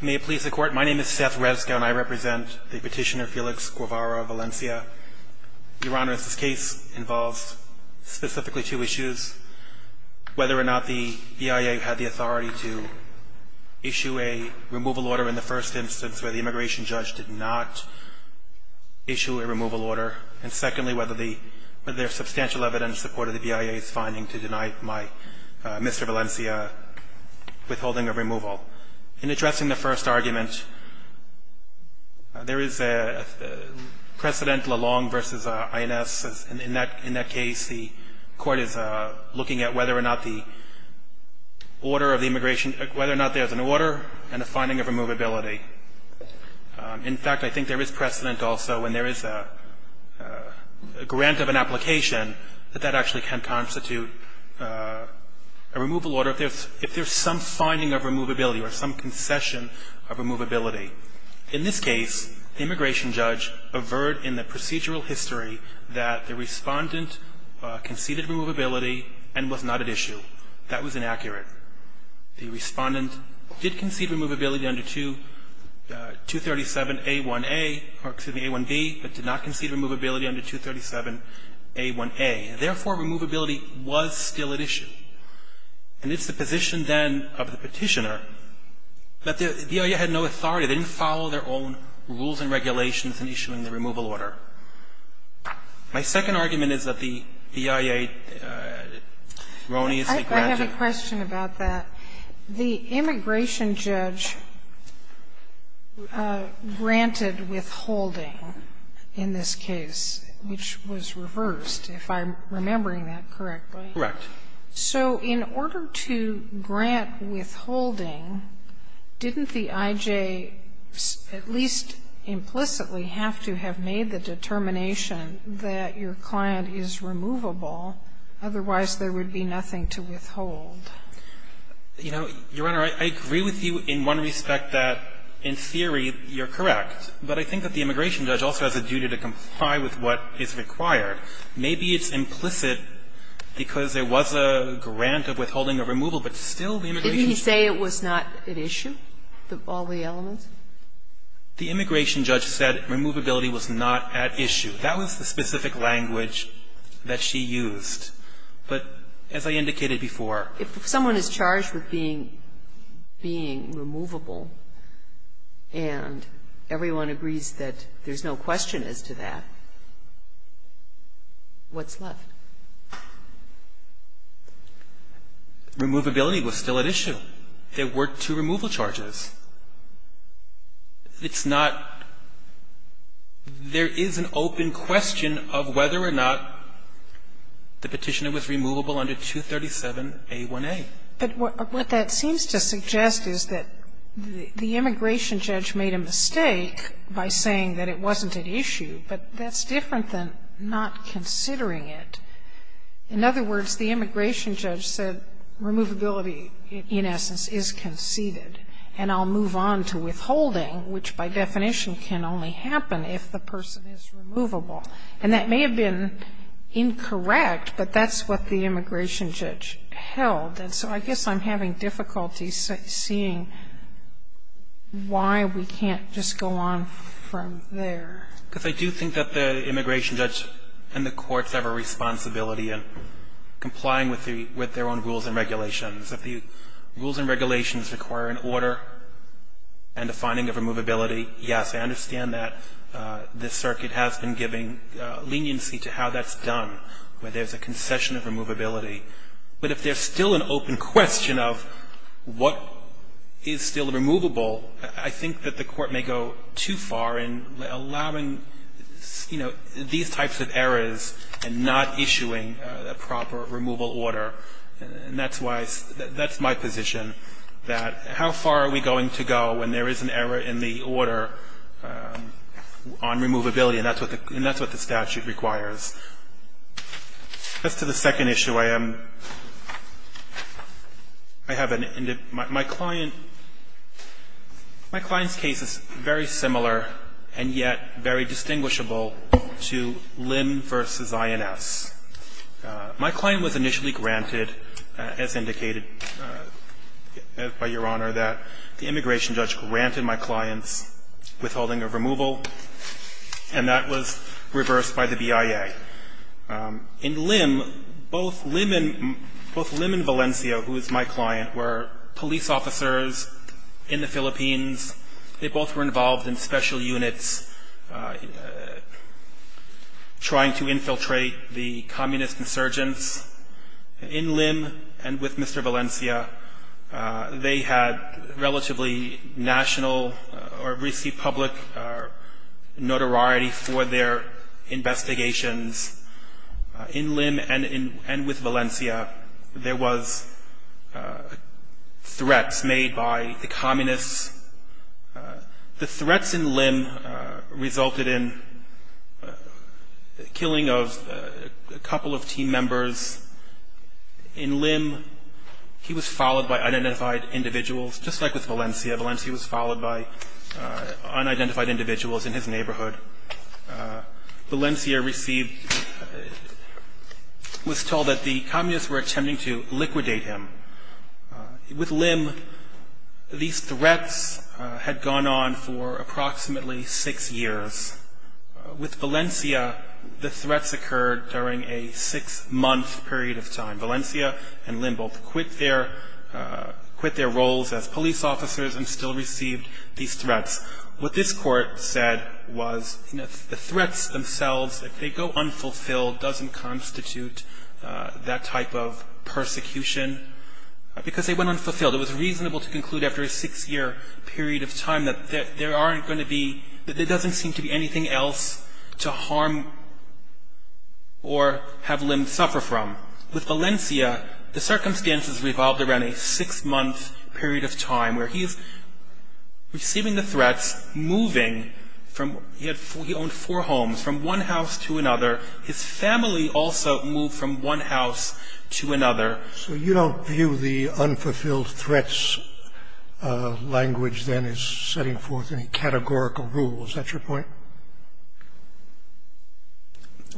May it please the Court, my name is Seth Rezka and I represent the petitioner Felix Guevara Valencia. Your Honor, this case involves specifically two issues. Whether or not the BIA had the authority to issue a removal order in the first instance where the immigration judge did not issue a removal order. And secondly, whether there is substantial evidence in support of the BIA's finding to deny my, Mr. Valencia, withholding of removal. In addressing the first argument, there is a precedent LaLong versus INS. In that case, the Court is looking at whether or not the order of the immigration, whether or not there is an order and a finding of removability. In fact, I think there is precedent also when there is a grant of an application that that actually can constitute a removal order if there is some finding of removability or some concession of removability. In this case, the immigration judge averred in the procedural history that the Respondent conceded removability and was not at issue. That was inaccurate. The Respondent did concede removability under 237a1a, or excuse me, a1b, but did not concede it under 237a1a. Therefore, removability was still at issue. And it's the position then of the Petitioner that the BIA had no authority. They didn't follow their own rules and regulations in issuing the removal order. My second argument is that the BIA erroneously granted the order. Sotomayor, I have a question about that. The immigration judge granted withholding in this case, which was reversed, if I'm remembering that correctly. Correct. So in order to grant withholding, didn't the IJ at least implicitly have to have made the determination that your client is removable, otherwise there would be nothing to withhold. You know, Your Honor, I agree with you in one respect, that in theory you're correct. But I think that the immigration judge also has a duty to comply with what is required. Maybe it's implicit because there was a grant of withholding or removal, but still the immigration judge was not at issue. Didn't he say it was not at issue, all the elements? The immigration judge said removability was not at issue. That was the specific language that she used. But as I indicated before, if someone is charged with being removable and everyone agrees that there's no question as to that, what's left? Removability was still at issue. There were two removal charges. It's not – there is an open question of whether or not the Petitioner was removable under 237A1A. But what that seems to suggest is that the immigration judge made a mistake by saying that it wasn't at issue, but that's different than not considering it. In other words, the immigration judge said removability, in essence, is conceded and I'll move on to withholding, which by definition can only happen if the person is removable. And that may have been incorrect, but that's what the immigration judge held. And so I guess I'm having difficulty seeing why we can't just go on from there. Because I do think that the immigration judge and the courts have a responsibility in complying with their own rules and regulations. If the rules and regulations require an order and a finding of removability, yes, I understand that this circuit has been giving leniency to how that's done, where there's a concession of removability. But if there's still an open question of what is still removable, I think that the court may go too far in allowing, you know, these types of errors and not issuing a proper removal order. And that's why that's my position, that how far are we going to go when there is an error in the order on removability, and that's what the statute requires. As to the second issue, I am, I have an, my client, my client's case is very similar and yet very distinguishable to Lynn v. INS. My client was initially granted, as indicated by Your Honor, that the immigration judge granted my client's withholding of removal, and that was reversed by the BIA. In Lynn, both Lynn and Valencia, who is my client, were police officers in the Philippines. They both were involved in special units trying to infiltrate the communist insurgents. In Lynn and with Mr. Valencia, they had relatively national or received public notoriety for their investigations. In Lynn and with Valencia, there was threats made by the communists. The threats in Lynn resulted in the killing of a couple of team members. In Lynn, he was followed by unidentified individuals, just like with Valencia. Valencia was followed by unidentified individuals in his neighborhood. Valencia received, was told that the communists were attempting to liquidate him. With Lynn, these threats had gone on for approximately six years. With Valencia, the threats occurred during a six-month period of time. Valencia and Lynn both quit their roles as police officers and still received these threats. What this court said was the threats themselves, if they go unfulfilled, doesn't constitute that type of persecution because they went unfulfilled. It was reasonable to conclude after a six-year period of time that there aren't going to be, that there doesn't seem to be anything else to harm or have Lynn suffer from. With Valencia, the circumstances revolved around a six-month period of time where he's receiving the threats, moving from, he owned four homes, from one house to another. His family also moved from one house to another. So you don't view the unfulfilled threats language then as setting forth any categorical rules. Is that your point?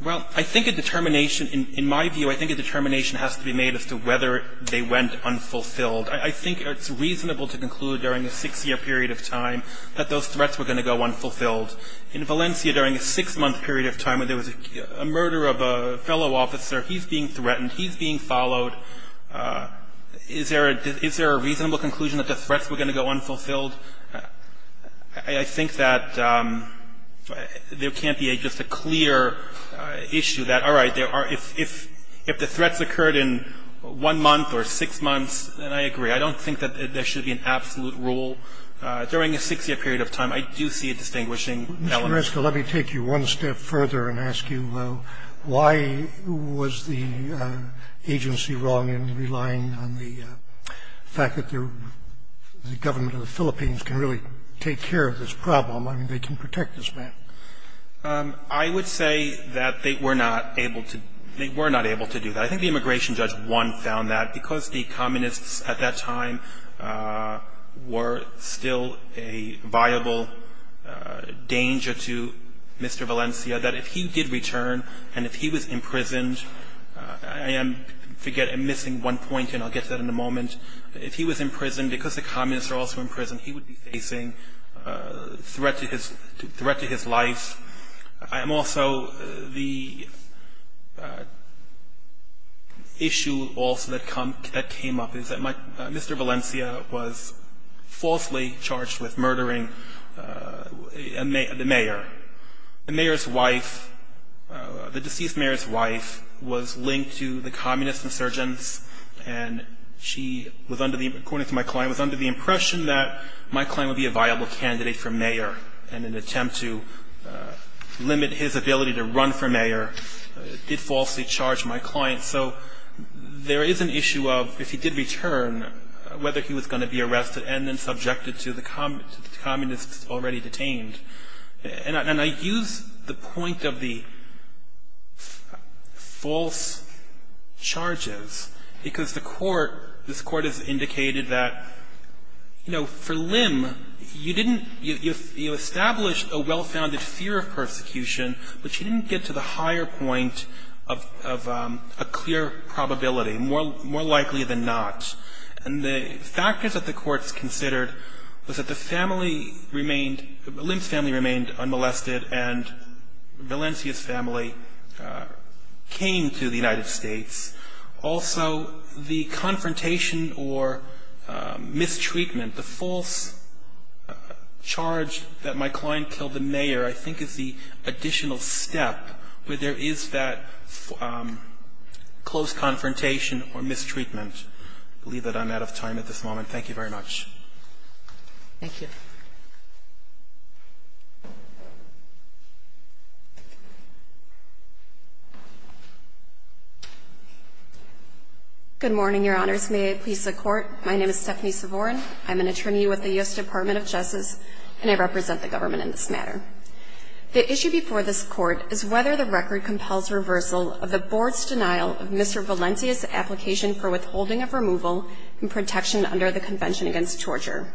Well, I think a determination, in my view, I think a determination has to be made as to whether they went unfulfilled. I think it's reasonable to conclude during a six-year period of time that those threats were going to go unfulfilled. In Valencia, during a six-month period of time when there was a murder of a fellow officer, he's being threatened, he's being followed. Is there a reasonable conclusion that the threats were going to go unfulfilled? I think that there can't be just a clear issue that, all right, if the threats occurred in one month or six months, then I agree. I don't think that there should be an absolute rule. During a six-year period of time, I do see a distinguishing element. Mr. Reskill, let me take you one step further and ask you why was the agency wrong in relying on the fact that the government of the Philippines can really take care of this problem? I mean, they can protect this man. I would say that they were not able to do that. I think the immigration judge, one, found that because the communists at that time were still a viable danger to Mr. Valencia that if he did return and if he was imprisoned, I am missing one point and I'll get to that in a moment. If he was in prison, because the communists are also in prison, he would be facing a threat to his life. Also, the issue also that came up is that Mr. Valencia was falsely charged with murdering the mayor. The mayor's wife, the deceased mayor's wife, was linked to the communist insurgents and she, according to my client, was under the impression that my client would be a viable candidate for mayor in an attempt to limit his ability to run for mayor, did falsely charge my client. So there is an issue of if he did return, whether he was going to be arrested and then subjected to the communists already detained. And I use the point of the false charges because this court has indicated that for Lim, you established a well-founded fear of persecution, but you didn't get to the higher point of a clear probability, more likely than not. And the factors that the courts considered was that Lim's family remained unmolested and Valencia's family came to the United States. Also, the confrontation or mistreatment, the false charge that my client killed the mayor, I think is the additional step where there is that close confrontation or mistreatment. I believe that I'm out of time at this moment. Thank you very much. Thank you. Good morning, your honors. May I please the court? My name is Stephanie Savorn. I'm an attorney with the U.S. Department of Justice and I represent the government in this matter. The issue before this court is whether the record compels reversal of the board's denial of Mr. Valencia's application for withholding of removal and protection under the Convention Against Torture.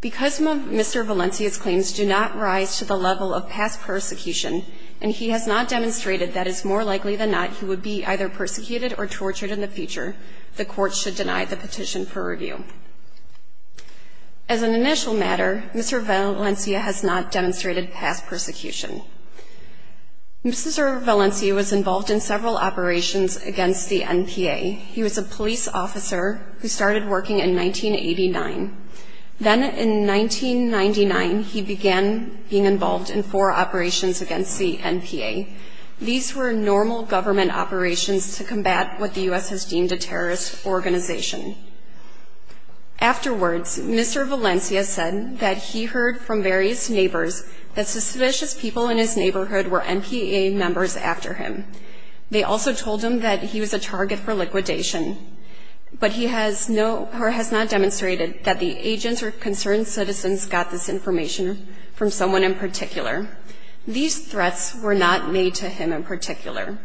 Because Mr. Valencia's claims do not rise to the level of past persecution and he has not demonstrated that it's more likely than not he would be either persecuted or tortured in the future, the court should deny the petition for review. As an initial matter, Mr. Valencia has not demonstrated past persecution. Mr. Valencia was involved in several operations against the NPA. He was a police officer who started working in 1989. Then in 1999, he began being involved in four operations against the NPA. These were normal government operations to combat what the U.S. has deemed a terrorist organization. Afterwards, Mr. Valencia said that he heard from various neighbors that suspicious people in his neighborhood were NPA members after him. They also told him that he was a target for liquidation. But he has not demonstrated that the agents or concerned citizens got this information from someone in particular. These threats were not made to him in particular.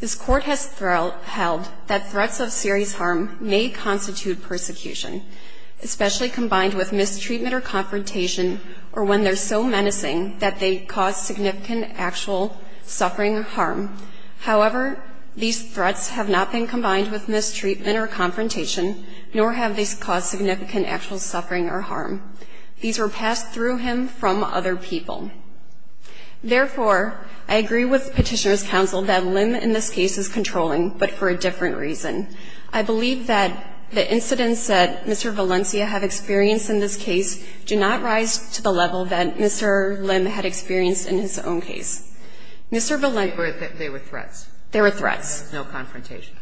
This court has held that threats of serious harm may constitute persecution, especially combined with mistreatment or confrontation or when they're so menacing that they cause significant actual suffering or harm. However, these threats have not been combined with mistreatment or confrontation nor have they caused significant actual suffering or harm. These were passed through him from other people. Therefore, I agree with Petitioner's Counsel that Lim in this case is controlling but for a different reason. I believe that the incidents that Mr. Valencia have experienced in this case do not rise to the level that Mr. Lim had experienced in his own case. Mr. Valencia... There were threats. There were threats. No confrontation.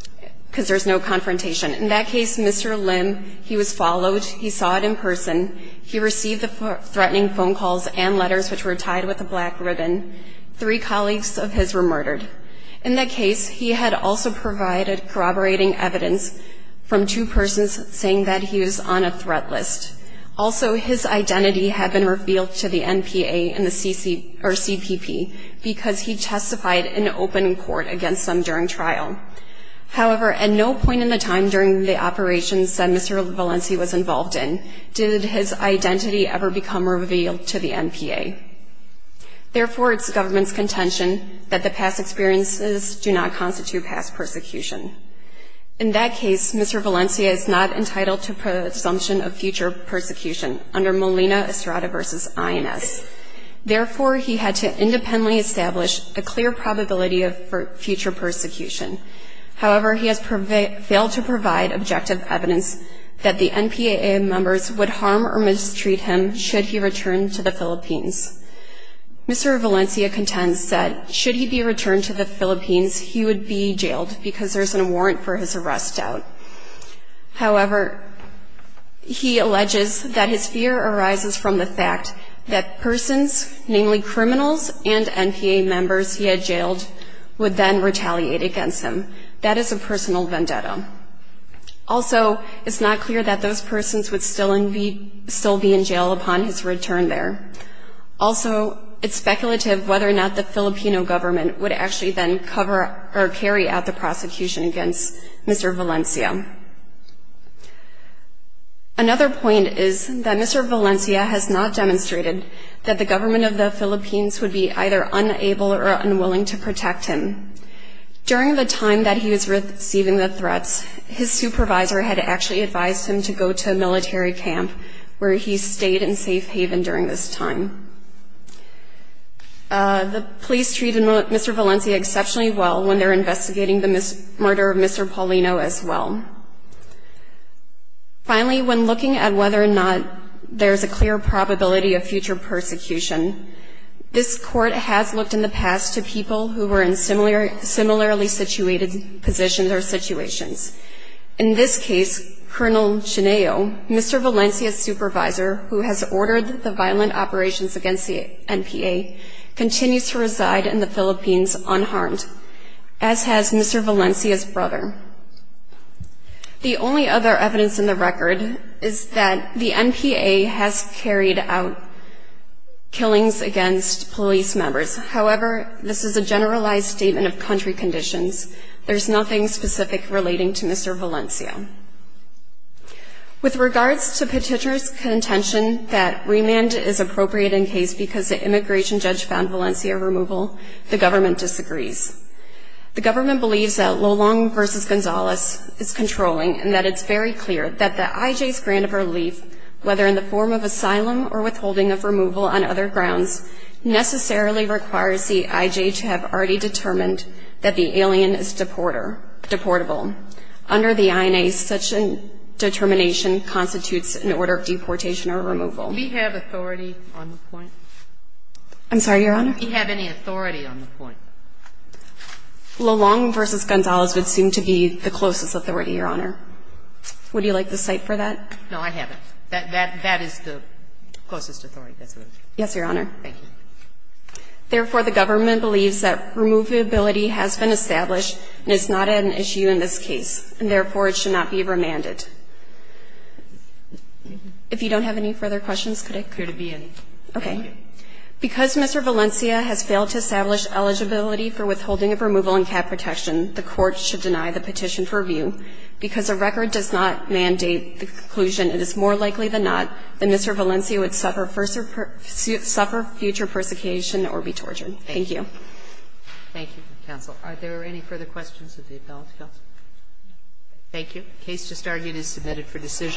Because there's no confrontation. In that case, Mr. Lim, he was followed. He saw it in person. He received the threatening phone calls and letters which were tied with a black ribbon. Three colleagues of his were murdered. In that case, he had also provided corroborating evidence from two persons saying that he was on a threat list. Also, his identity had been revealed to the NPA and the CPP because he testified in open court against them during trial. However, at no point in the time during the operations that Mr. Valencia was involved in did his identity ever become revealed to the NPA. Therefore, it's the government's contention that the past experiences do not constitute past persecution. In that case, Mr. Valencia is not entitled to presumption of future persecution under Molina-Estrada v. INS. Therefore, he had to independently establish a clear probability of future persecution. However, he has failed to provide objective evidence that the NPA members would harm or mistreat him should he return to the Philippines. Mr. Valencia contends that should he be returned to the Philippines he would be jailed because there's a warrant for his arrest out. However, he alleges that his fear arises from the fact that persons, namely criminals and NPA members he had jailed would then retaliate against him. That is a personal vendetta. Also, it's not clear that those persons would still be in jail upon his return there. Also, it's speculative whether or not the Filipino government would actually then carry out the prosecution against Mr. Valencia. Another point is that Mr. Valencia has not demonstrated that the government of the Philippines would be either unable or unwilling to protect him. During the time that he was receiving the threats his supervisor had actually advised him to go to a military camp where he stayed in safe haven during this time. The police treated Mr. Valencia exceptionally well when they're investigating the murder of Mr. Paulino as well. Finally, when looking at whether or not there's a clear probability of future persecution, this court has looked in the past to people who were in similarly situated positions or situations. In this case, Colonel Chineo, Mr. Valencia's supervisor, who has ordered the violent operations against the NPA continues to reside in the Philippines unharmed as has Mr. Valencia's brother. The only other evidence in the record is that the NPA has carried out killings against police members. However, this is a generalized statement of country conditions. There's nothing specific relating to Mr. Valencia. With regards to petitioner's contention that remand is appropriate in case because the immigration judge found Valencia removal, the government disagrees. The government believes that Lolong vs. Gonzalez is controlling and that it's very clear that the IJ's grant of relief, whether in the form of asylum or withholding of removal on other grounds, necessarily requires the IJ to have already determined that the alien is deportable. Under the INA, such a determination constitutes an order of deportation or removal. Do we have authority on the point? I'm sorry, Your Honor? Do we have any authority on the point? Lolong vs. Gonzalez would seem to be the closest authority, Your Honor. Would you like to cite for that? No, I haven't. That is the closest authority. Yes, Your Honor. Thank you. Therefore, the government believes that removability has been established and is not an issue in this case and therefore it should not be remanded. If you don't have any further questions, could I clear to be in? Okay. Because Mr. Valencia has failed to establish eligibility for withholding of removal and cap protection, the Court should deny the petition for review. Because the record does not mandate the conclusion, it is more likely than not that Mr. Valencia would suffer future persecution or be tortured. Thank you. Thank you, counsel. Are there any further questions of the appellate counsel? Thank you. The case just argued is submitted for decision.